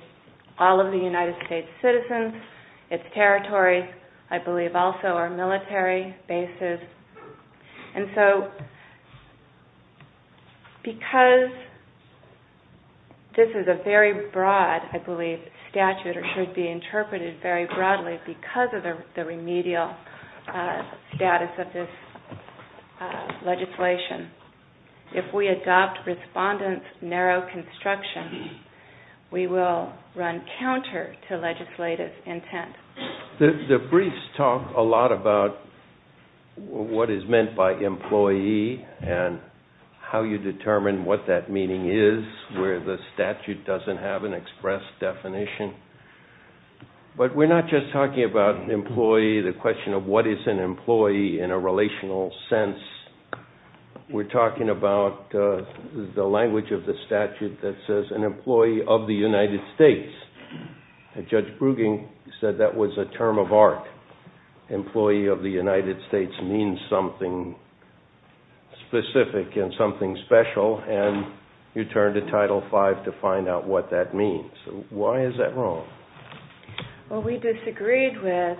and all of the United States citizens, its territory, I believe also our military bases. And so because this is a very broad, I believe, statute or should be interpreted very broadly because of the remedial status of this legislation, if we adopt respondent's narrow construction, we will run counter to legislative intent. The briefs talk a lot about what is meant by employee and how you determine what that meaning is, where the statute doesn't have an express definition. But we're not just talking about employee, the question of what is an employee in a relational sense. We're talking about the language of the statute that says an employee of the United States. Judge Brueging said that was a term of art. Employee of the United States means something specific and something special, and you turn to Title V to find out what that means. Why is that wrong? Well, we disagreed with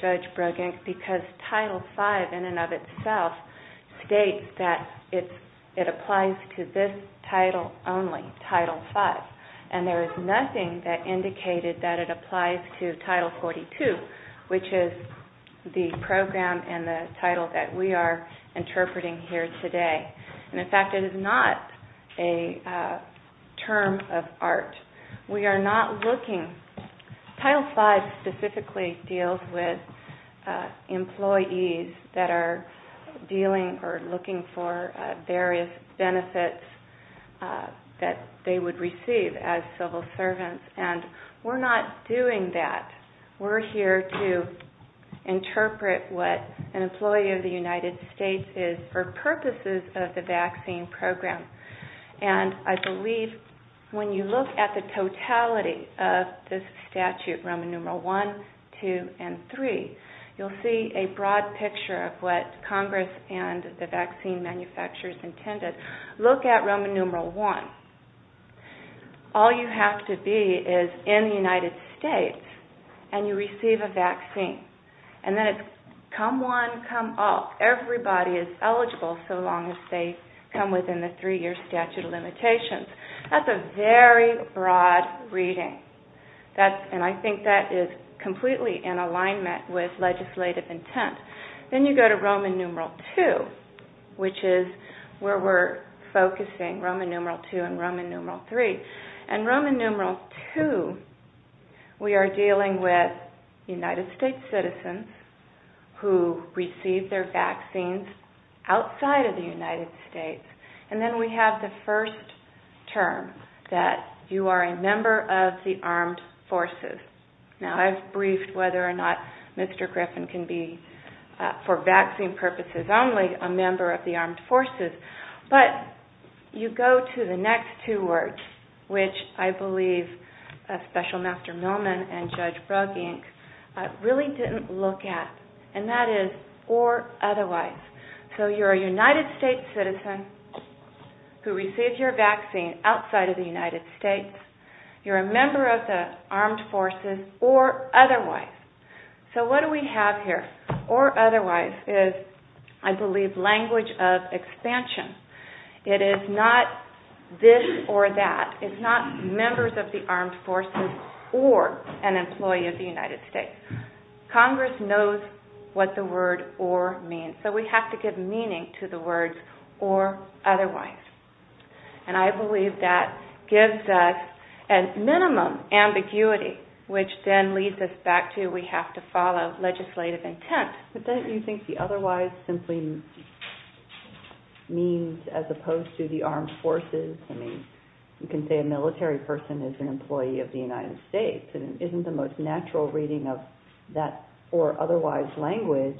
Judge Brueging because Title V, in and of itself, states that the it applies to this title only, Title V. And there is nothing that indicated that it applies to Title 42, which is the program and the title that we are interpreting here today. And, in fact, it is not a term of art. We are not looking. Title V specifically deals with employees that are dealing or looking for various benefits that they would receive as civil servants, and we're not doing that. We're here to interpret what an employee of the United States is for purposes of the vaccine program. And I believe when you look at the Section 3, you'll see a broad picture of what Congress and the vaccine manufacturers intended. Look at Roman numeral 1. All you have to be is in the United States, and you receive a vaccine. And then it's come one, come all. Everybody is eligible so long as they come within the three-year statute of limitations. That's a very broad reading, and I think that is completely in alignment with legislative intent. Then you go to Roman numeral 2, which is where we're focusing, Roman numeral 2 and Roman numeral 3. In Roman numeral 2, we are dealing with United States citizens who receive their vaccines outside of the United States. And then we have the first term that you are a member of the Armed Forces. Now, I've briefed whether or not Mr. Griffin can be, for vaccine purposes only, a member of the Armed Forces. But you go to the next two words, which I believe Special Master Millman and Judge Brugge, Inc., really didn't look at, and that is, or otherwise. So you're a United States citizen who receives your vaccine outside of the United States. You're a member of the Armed Forces, or otherwise. So what do we have here? Or otherwise is, I believe, language of expansion. It is not this or that. It's not members of the Armed Forces or an employee of the United States. Congress knows what the word or means, so we have to give meaning to the words or otherwise. And I believe that gives us a minimum ambiguity, which then leads us back to we have to follow legislative intent. But don't you think the otherwise simply means as opposed to the Armed Forces? I mean, you can say a military person is an employee of the United States. It isn't the most natural reading of that or otherwise language.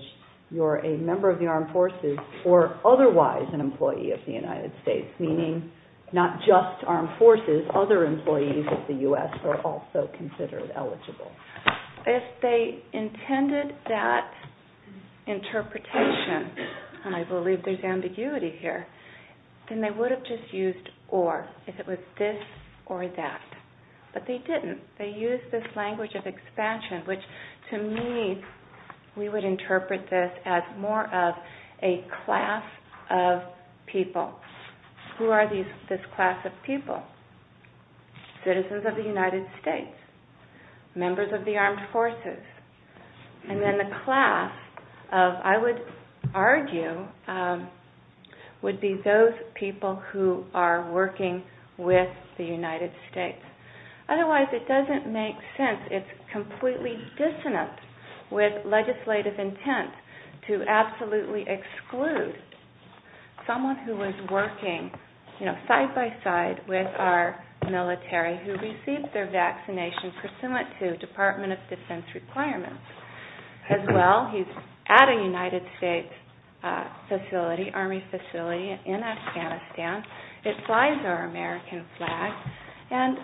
You're a member of the Armed Forces or otherwise an employee of the United States, meaning not just Armed Forces. Other employees of the U.S. are also considered eligible. If they intended that interpretation, and I believe there's ambiguity here, then they would have just used or, if it was this or that. But they didn't. They used this language of expansion, which to me, we would interpret this as more of a class of people. Who are this class of people? Citizens of the United States. Members of the Armed Forces. And then the class of, I would argue, would be those people who are working with the United States. Otherwise, it doesn't make sense. It's completely dissonant with legislative intent to absolutely exclude someone who was working side by side with our military who received their vaccination pursuant to Department of Defense requirements. As well, he's at a United States facility, Army facility in Afghanistan. It flies our American flag. And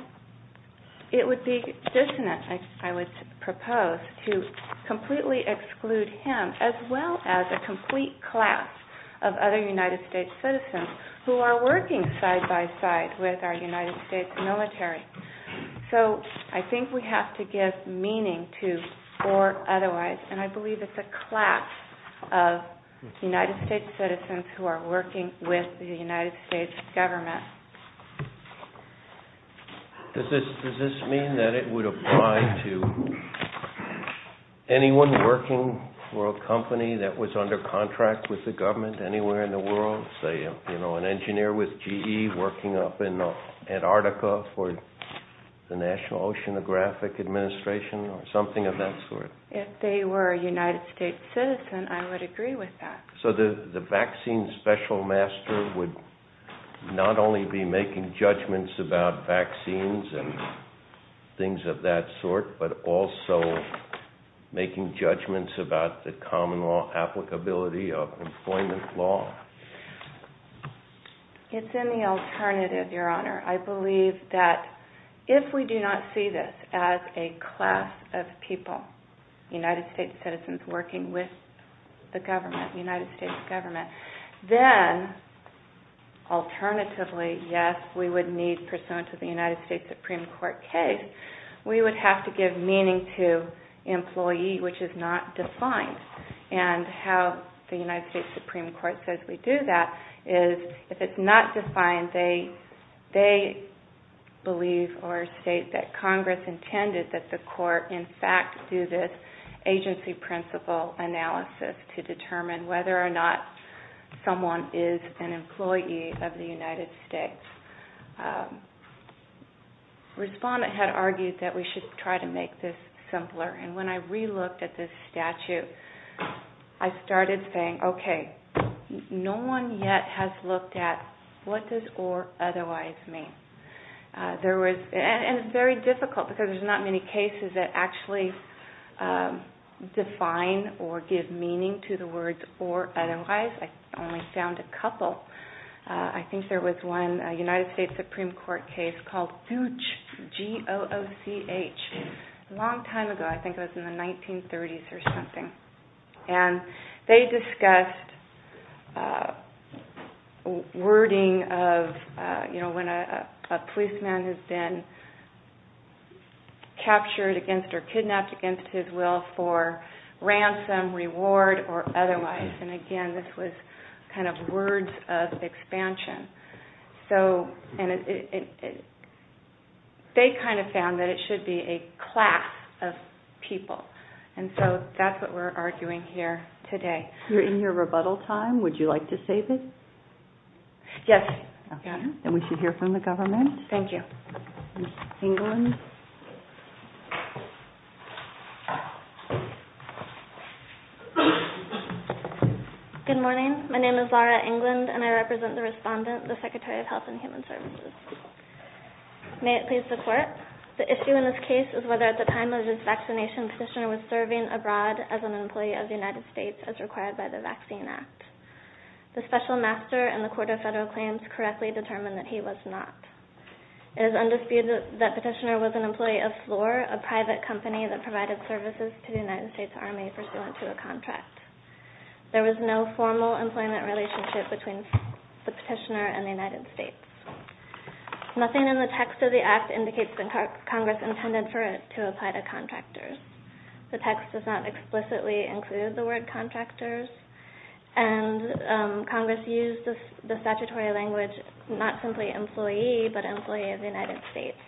it would be dissonant, I would propose, to completely exclude him as well as a complete class of other United States citizens who are working side by side with our United States military. So I think we have to give meaning to or otherwise. And I believe it's a class of United States citizens who are working with the United States government to do that. Does this mean that it would apply to anyone working for a company that was under contract with the government anywhere in the world? Say, you know, an engineer with GE working up in Antarctica for the National Oceanographic Administration or something of that sort? If they were a United States citizen, I would agree with that. So the vaccine special master would not only be making judgments about vaccines and things of that sort, but also making judgments about the common law applicability of employment law? It's in the alternative, Your Honor. I believe that if we do not see this as a class of people, United States citizens working with the government, the United States government, then alternatively, yes, we would need, pursuant to the United States Supreme Court case, we would have to give meaning to employee, which is not defined. And how the United States Supreme Court says we do that is if it's not defined, they believe or state that Congress intended that the court in fact do this agency principle analysis to determine whether or not someone is an employee of the United States. Respondent had argued that we should try to make this simpler. And when I re-looked at this statute, I started saying, okay, no one yet has looked at what does or otherwise mean? And it's very difficult because there's not many cases that actually define or give meaning to the words or otherwise. I only found a couple. I think there was one United States Supreme Court case called DOCH, G-O-O-C-H, a long time ago. I think it was in the 1930s or something. And they discussed wording of, you know, when a person is a person, they are a policeman who's been captured against or kidnapped against his will for ransom, reward, or otherwise. And again, this was kind of words of expansion. So, and it, they kind of found that it should be a class of people. And so that's what we're arguing here today. You're in your rebuttal time. Would you like to save it? Yes. Okay. Then we should hear from the government. Thank you. Ms. England. Good morning. My name is Laura England and I represent the respondent, the Secretary of Health and Human Services. May it please the Court, the issue in this case is whether at the time of this vaccination petitioner was serving abroad as an employee of the United States as required by the Vaccine Act. The Special Master and the Court of Federal Claims correctly determined that he was not. It is undisputed that petitioner was an employee of Floor, a private company that provided services to the United States Army pursuant to a contract. There was no formal employment relationship between the petitioner and the United States. Nothing in the text of the act indicates that Congress intended for it to apply to contractors. The text does not explicitly include the word contractors and Congress used the statutory language, not simply employee, but employee of the United States.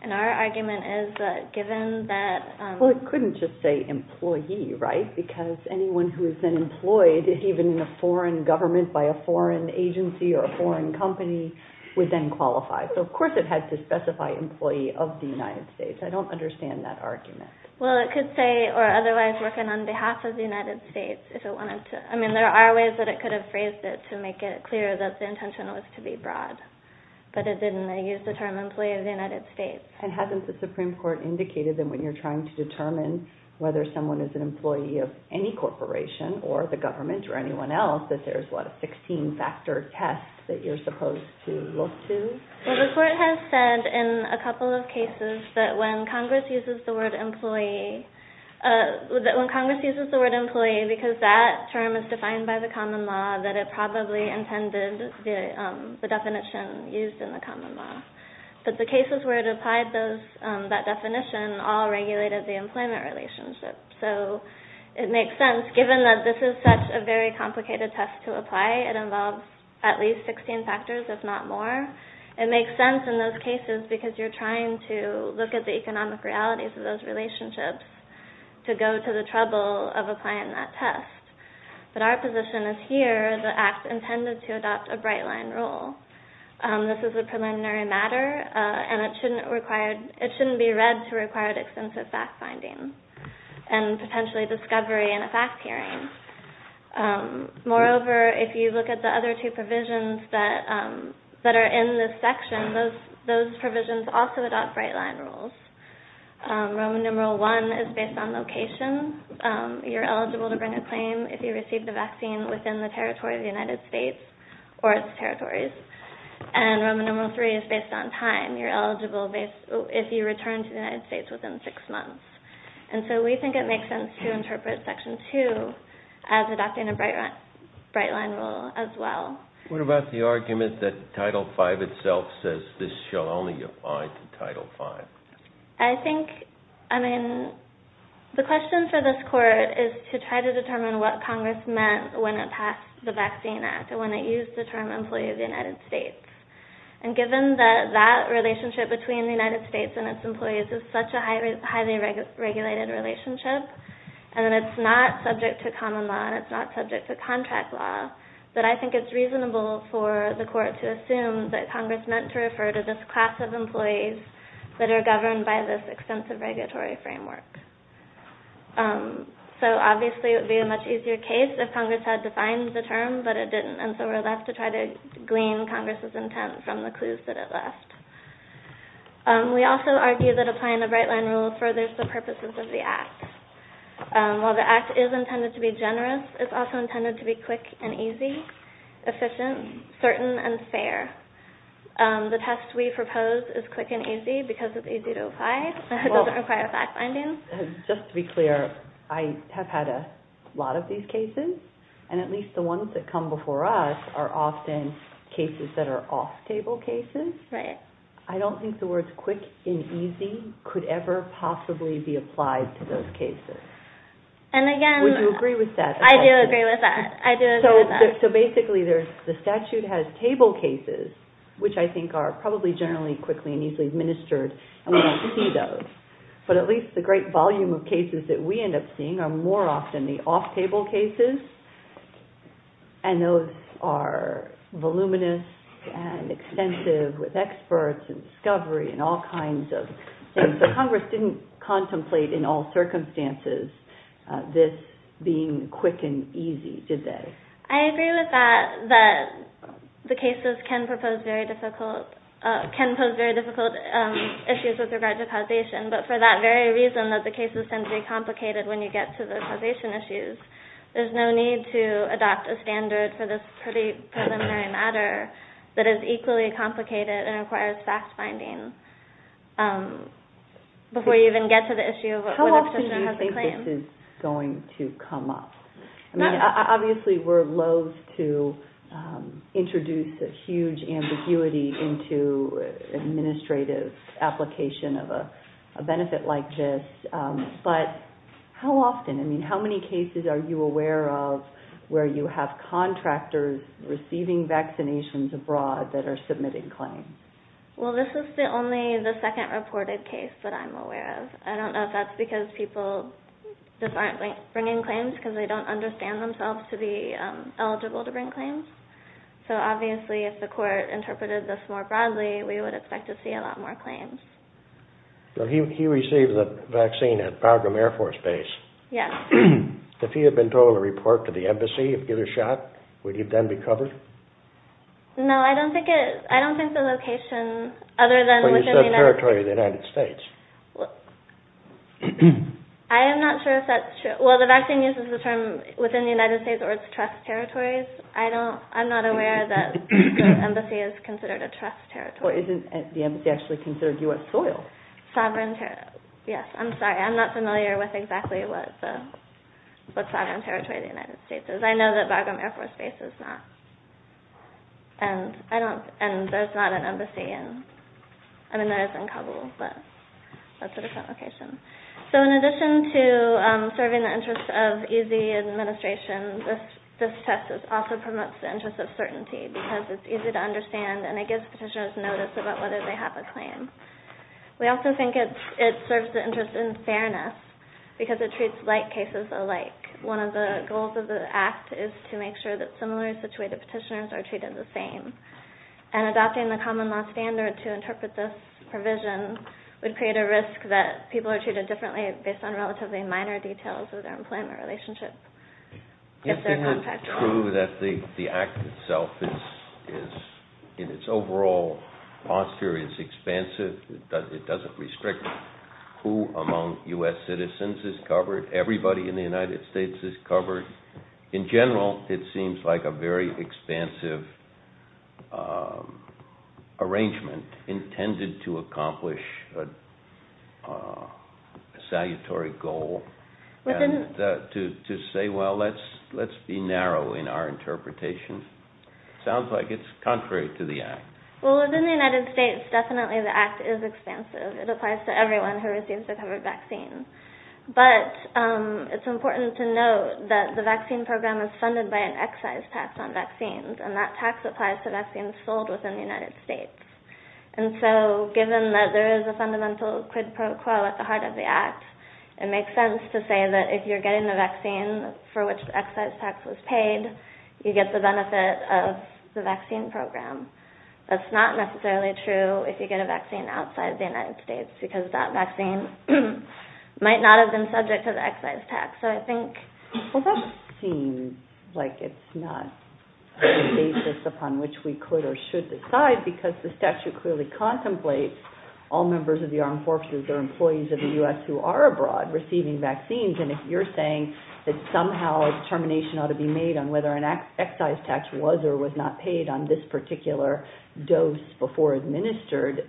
And our argument is that given that... Well, it couldn't just say employee, right? Because anyone who has been employed, even in a foreign government by a foreign agency or a foreign company, would then qualify. So of course it had to specify employee of the United States. I don't understand that argument. Well, it could say or otherwise work on behalf of the United States if it wanted to. I mean there are ways that it could have phrased it to make it clear that the intention was to be broad. But it didn't use the term employee of the United States. And hasn't the Supreme Court indicated that when you're trying to determine whether someone is an employee of any corporation or the government or anyone else that there's what, a 16-factor test that you're supposed to look to? Well, the Court has said in a couple of cases that when Congress uses the word employee... by the common law that it probably intended the definition used in the common law. But the cases where it applied that definition all regulated the employment relationship. So it makes sense, given that this is such a very complicated test to apply. It involves at least 16 factors, if not more. It makes sense in those cases because you're trying to look at the economic realities of those relationships to go to the trouble of applying that test. But our position is here the Act intended to adopt a bright-line rule. This is a preliminary matter and it shouldn't be read to require extensive fact-finding and potentially discovery and a fact-hearing. Moreover, if you look at the other two provisions that are in this section, those provisions also adopt bright-line rules. Roman numeral one is based on location. You're eligible to bring a claim if you receive the vaccine within the territory of the United States or its territories. And Roman numeral three is based on time. You're eligible if you return to the United States within six months. And so we think it makes sense to interpret section two as adopting a bright-line rule as well. What about the argument that Title V itself says this shall only apply to Title V? I think, I mean, the question for this Court is to try to determine what Congress meant when it passed the Vaccine Act and when it used the term employee of the United States. And given that that relationship between the United States and its employees is such a highly regulated relationship and that it's not subject to common law and it's not subject to contract law, that I think it's reasonable for the Court to assume that Congress meant to refer to this class of employees that are governed by this extensive regulatory framework. So obviously it would be a much easier case if Congress had defined the term, but it didn't, and so we're left to try to glean Congress's intent from the clues that it left. We also argue that applying the bright-line rule furthers the purposes of the Act. While the Act is intended to be generous, it's also intended to be quick and easy, efficient, certain, and fair. The test we propose is quick and easy because it's easy to apply and it doesn't require fact-finding. Just to be clear, I have had a lot of these cases, and at least the ones that come before us are often cases that are off-table cases. Right. I don't think the words quick and easy could ever possibly be applied to those cases. And again... Would you agree with that? I do agree with that. So basically the statute has table cases, which I think are probably generally quickly and easily administered, and we don't see those. But at least the great volume of cases that we end up seeing are more often the off-table cases, and those are voluminous and extensive with experts and discovery and all kinds of things that Congress didn't contemplate in all circumstances this being quick and easy, did they? I agree with that, that the cases can pose very difficult issues with regard to causation, but for that very reason that the cases tend to be complicated when you get to the causation issues, there's no need to adopt a standard for this preliminary matter that is equally complicated and requires fact-finding before you even get to the issue of whether a person has a claim. How often do you think this is going to come up? I mean, obviously we're loathe to introduce a huge ambiguity into administrative application of a benefit like this, but how often? I mean, how many cases are you aware of where you have contractors receiving vaccinations abroad that are submitting claims? Well, this is only the second reported case that I'm aware of. I don't know if that's because people just aren't bringing claims because they don't understand themselves to be eligible to bring claims. So, obviously, if the court interpreted this more broadly, we would expect to see a lot more claims. He received the vaccine at Bagram Air Force Base. Yes. If he had been told to report to the embassy, if given a shot, would he then be covered? No, I don't think the location, other than within the United States. Well, you said territory of the United States. I am not sure if that's true. Well, the vaccine uses the term within the United States or its trust territories. I'm not aware that the embassy is considered a trust territory. Well, isn't the embassy actually considered U.S. soil? Yes, I'm sorry. I'm not familiar with exactly what sovereign territory of the United States is. I know that Bagram Air Force Base is not, and there's not an embassy. I mean, there is in Kabul, but that's a different location. So, in addition to serving the interests of easy administration, this test also promotes the interest of certainty because it's easy to understand and it gives petitioners notice about whether they have a claim. We also think it serves the interest in fairness because it treats like cases alike. One of the goals of the Act is to make sure that similarly situated petitioners are treated the same, and adopting the common law standard to interpret this provision would create a risk that people are treated differently based on relatively minor details of their employment relationship. Isn't it true that the Act itself, in its overall posture, is expansive? It doesn't restrict who among U.S. citizens is covered. Everybody in the United States is covered. In general, it seems like a very expansive arrangement intended to accomplish a salutary goal and to say, well, let's be narrow in our interpretation. It sounds like it's contrary to the Act. Well, within the United States, definitely the Act is expansive. It applies to everyone who receives a covered vaccine. But it's important to note that the vaccine program is funded by an excise tax on vaccines and that tax applies to vaccines filled within the United States. And so, given that there is a fundamental quid pro quo at the heart of the Act, it makes sense to say that if you're getting the vaccine for which the excise tax was paid, you get the benefit of the vaccine program. That's not necessarily true if you get a vaccine outside the United States because that vaccine might not have been subject to the excise tax. So I think... Well, that seems like it's not a basis upon which we could or should decide because the statute clearly contemplates all members of the armed forces or employees of the U.S. who are abroad receiving vaccines. And if you're saying that somehow a determination ought to be made on whether an excise tax was or was not paid on this particular dose before administered,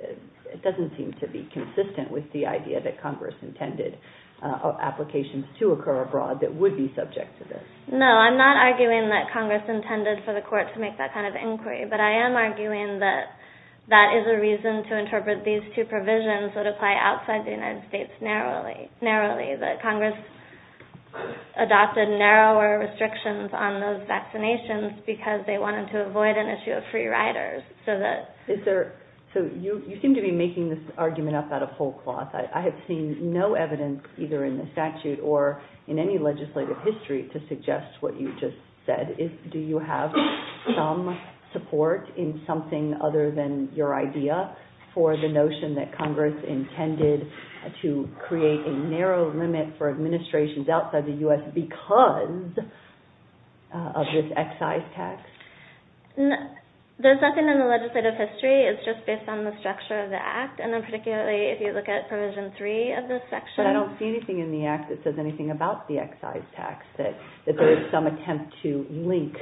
it doesn't seem to be consistent with the idea that Congress intended applications to occur abroad that would be subject to this. No, I'm not arguing that Congress intended for the court to make that kind of inquiry. But I am arguing that that is a reason to interpret these two provisions that apply outside the United States narrowly, that Congress adopted narrower restrictions on those vaccinations because they wanted to avoid an issue of free riders. So you seem to be making this argument up out of whole cloth. I have seen no evidence either in the statute or in any legislative history to suggest what you just said. Do you have some support in something other than your idea for the notion that Congress intended to create a narrow limit for administrations outside the U.S. because of this excise tax? There's nothing in the legislative history. It's just based on the structure of the Act and then particularly if you look at Provision 3 of this section. But I don't see anything in the Act that says anything about the excise tax that there is some attempt to link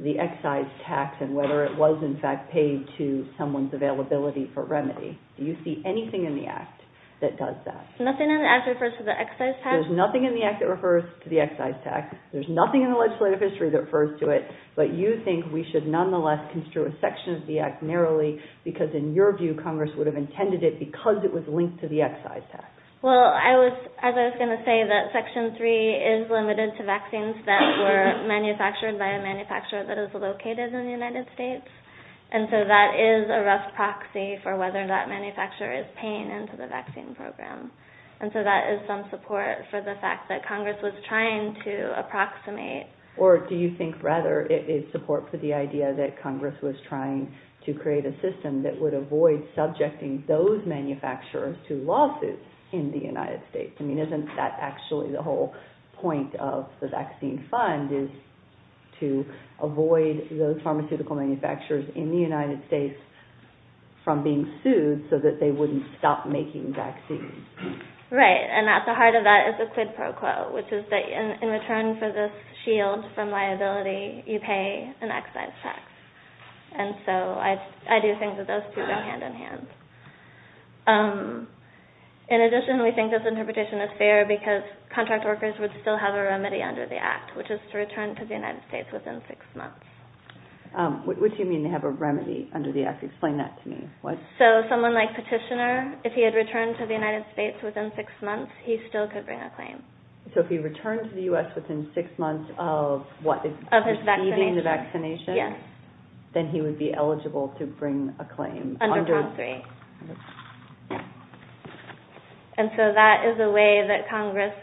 the excise tax and whether it was in fact paid to someone's availability for remedy. Do you see anything in the Act that does that? Nothing in the Act refers to the excise tax? There's nothing in the Act that refers to the excise tax. There's nothing in the legislative history that refers to it. But you think we should nonetheless construe a section of the Act narrowly because in your view Congress would have intended it because it was linked to the excise tax. Well, as I was going to say that Section 3 is limited to vaccines that were manufactured by a manufacturer that is located in the United States. And so that is a rough proxy for whether that manufacturer is paying into the vaccine program. And so that is some support for the fact that Congress was trying to approximate. Or do you think rather it is support for the idea that Congress was trying to create a system that would avoid subjecting those manufacturers to lawsuits in the United States? Isn't that actually the whole point of the vaccine fund is to avoid those pharmaceutical manufacturers in the United States from being sued so that they wouldn't stop making vaccines? Right, and at the heart of that is the quid pro quo which is that in return for this shield from liability you pay an excise tax. And so I do think that those two go hand in hand. In addition, we think this interpretation is fair because contract workers would still have a remedy under the Act which is to return to the United States within six months. What do you mean they have a remedy under the Act? Explain that to me. So someone like Petitioner, if he had returned to the United States within six months he still could bring a claim. So if he returned to the U.S. within six months of what? Of his vaccination. Receiving the vaccination? Yes. Then he would be eligible to bring a claim? Under Prompt 3. And so that is a way that Congress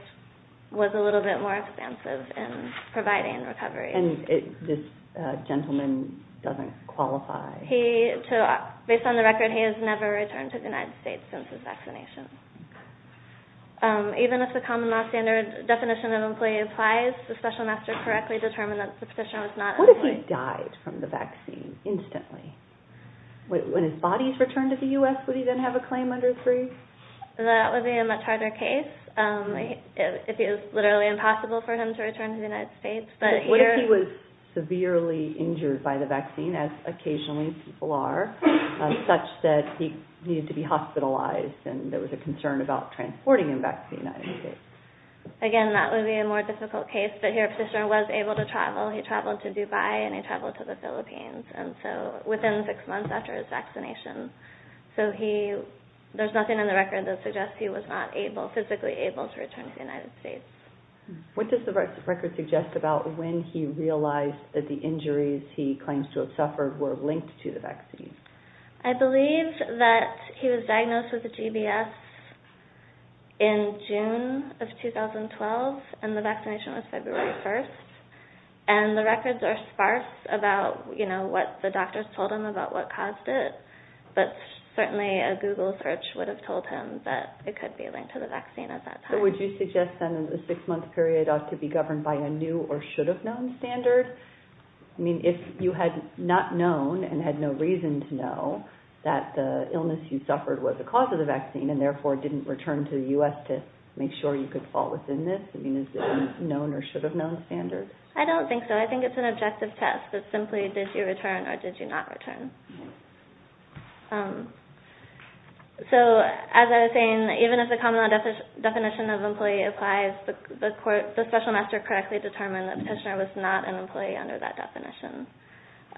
was a little bit more expansive in providing recovery. And this gentleman doesn't qualify? Based on the record, he has never returned to the United States since his vaccination. Even if the common law standard definition of employee applies the Special Master correctly determined that the Petitioner was not employed. What if he died from the vaccine instantly? When his body is returned to the U.S. would he then have a claim under 3? That would be a much harder case if it was literally impossible for him to return to the United States. What if he was severely injured by the vaccine as occasionally people are such that he needed to be hospitalized and there was a concern about transporting him back to the United States? Again, that would be a more difficult case but here Petitioner was able to travel. He traveled to Dubai and he traveled to the Philippines and so within 6 months after his vaccination. So there is nothing in the record that suggests he was not physically able to return to the United States. What does the record suggest about when he realized that the injuries he claims to have suffered were linked to the vaccine? I believe that he was diagnosed with GBS in June of 2012 and the vaccination was February 1st and the records are sparse about what the doctors told him about what caused it but certainly a Google search would have told him that it could be linked to the vaccine at that time. Would you suggest then that the 6 month period ought to be governed by a new or should have known standard? I mean if you had not known and had no reason to know that the illness you suffered was the cause of the vaccine and therefore didn't return to the U.S. to make sure you could fall within this I mean is there a known or should have known standard? I don't think so. I think it's an objective test that simply did you return or did you not return. So as I was saying even if the common law definition of employee applies the court, the special master correctly determined that Tishner was not an employee under that definition.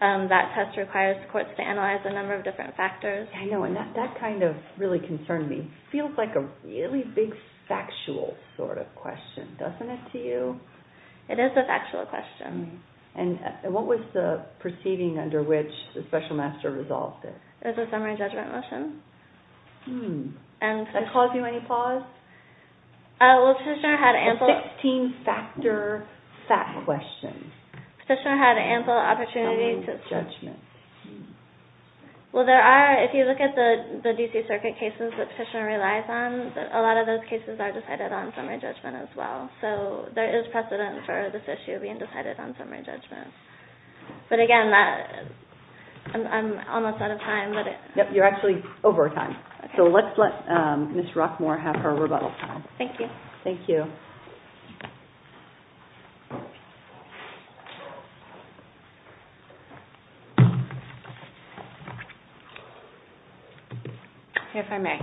That test requires the courts to analyze a number of different factors. I know and that kind of really concerned me. It feels like a really big factual sort of question. Doesn't it to you? It is a factual question. And what was the proceeding under which the special master resolved it? It was a summary judgment motion. Hmm. Did that cause you any pause? Well Tishner had ample A 16-factor fact question. Tishner had ample opportunities Summary judgment. Well there are if you look at the D.C. circuit cases that Tishner relies on a lot of those cases are decided on summary judgment as well. So there is precedent for this issue being decided on summary judgment. But again I'm almost out of time. You're actually over time. So let's let Ms. Rockmore have her rebuttal time. Thank you. Thank you. If I may.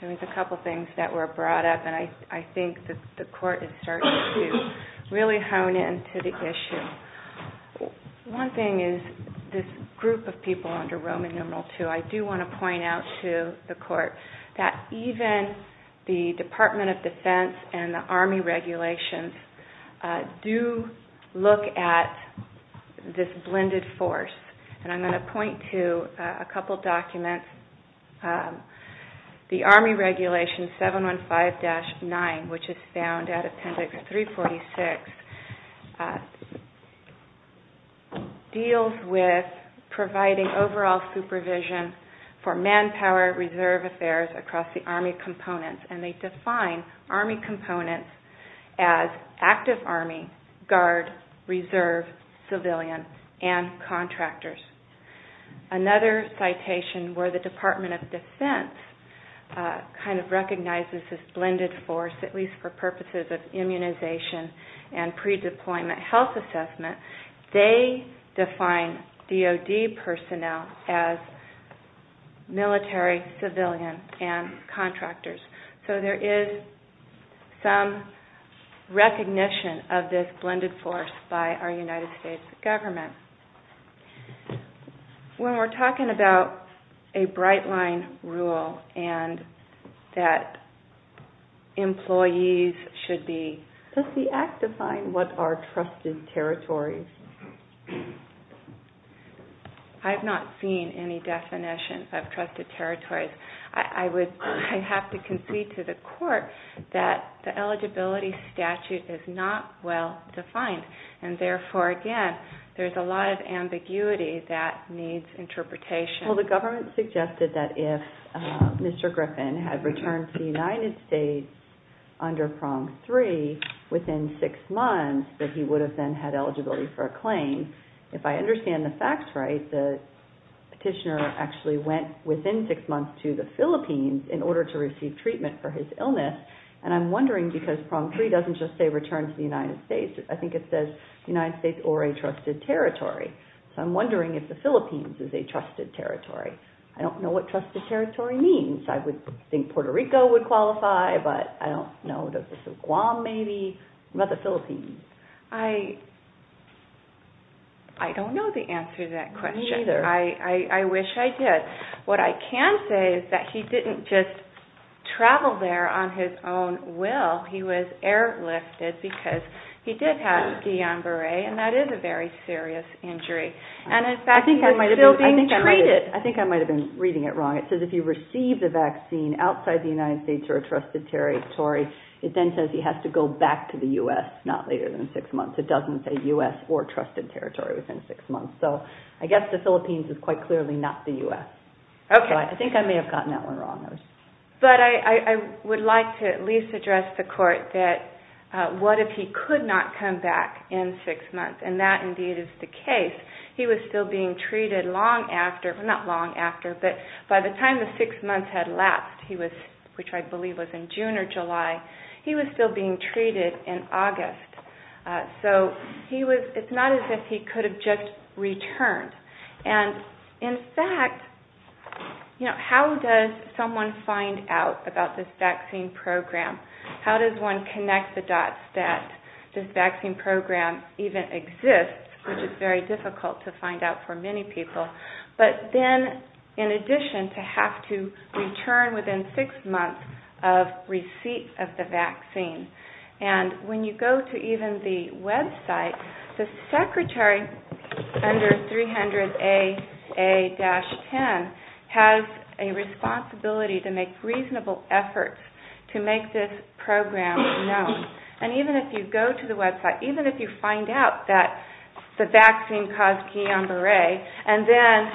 There was a couple things that were brought up and I think the court is starting to really hone in to the issue. One thing is this group of people under Roman numeral 2 I do want to point out to the court that even the Department of Defense and the Army regulations do look at this blended force. And I'm going to point to a couple documents The Army regulation 715-9 which is found at Appendix 346 deals with providing overall supervision for manpower reserve affairs across the Army components. And they define Army components as active Army guard reserve civilian and contractors. Another citation where the Department of Defense kind of recognizes this blended force at least for purposes of immunization and pre-deployment health assessment they define DOD personnel as military civilian and contractors. So there is some recognition of this blended force by our United States government. When we're talking about a bright line rule and that employees should be Does the act define what are trusted territories? I have not seen any definition of trusted territories. I would have to concede to the court that the eligibility statute is not well defined and therefore again there's a lot of ambiguity that needs interpretation. Well the government suggested that if Mr. Griffin had returned to the United States under Prong 3 within six months that he would have then had eligibility for a claim. If I understand the facts right the petitioner actually went within six months to the Philippines in order to receive treatment for his illness and I'm wondering because Prong 3 doesn't just say return to the United States I think it says United States or a trusted territory. So I'm wondering if the Philippines is a trusted territory. I don't know what trusted territory means. I would think Puerto Rico would qualify but I don't know. Guam maybe? What about the Philippines? I don't know the answer to that question. Me neither. I wish I did. What I can say is that he didn't just travel there on his own will. He was airlifted because he did have Guillain-Barre and that is a very serious injury. I think I might have been reading it wrong. It says if he received a vaccine outside the United States or a trusted territory it then says he has to go back to the U.S. not later than six months. It doesn't say U.S. or trusted territory within six months. So I guess the Philippines is quite clearly not the U.S. I think I may have gotten that one wrong. But I would like to at least address the court that what if he could not come back in six months and that indeed is the case. He was still being treated long after, not long after, but by the time the six months had left, which I believe was in June or July, he was still being treated in August. So he was, it's not as if he could have just returned. And in fact, you know, how does someone find out about this vaccine program? How does one connect the dots that this vaccine program even exists, which is very difficult to find out for many people, but then in addition to have to return within six months of receipt of the vaccine. And when you go to even the website, the secretary under 300 AA-10 has a responsibility to make reasonable efforts to make this program known. And even if you go to the website, even if you find out that the vaccine caused Guillain-Barré and then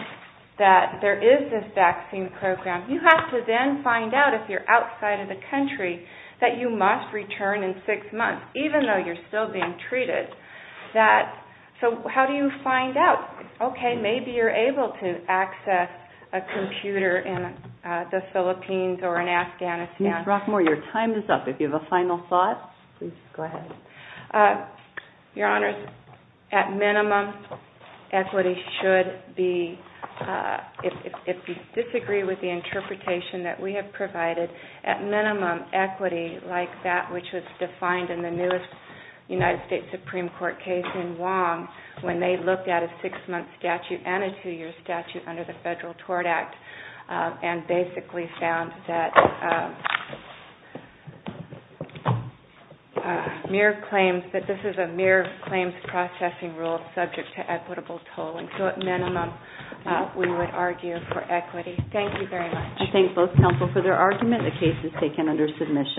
that there is this vaccine program, you have to then find out if you're outside of the country that you must return in six months, even though you're still being treated. So how do you find out? Okay, maybe you're able to access a computer in the Philippines or in Afghanistan. Ms. Rockmore, your time is up. If you have a final thought, please go ahead. Your Honors, at minimum equity should be if you disagree with the interpretation that we have provided, at minimum equity like that which was defined in the newest United States Supreme Court case in Wong, when they looked at a six-month statute and a two-year statute under the Federal Tort Act and basically found that mere claims, that this is a mere claims processing rule subject to equitable tolling. So at minimum we would argue for equity. Thank you very much. I thank both counsel for their argument. The case is taken under your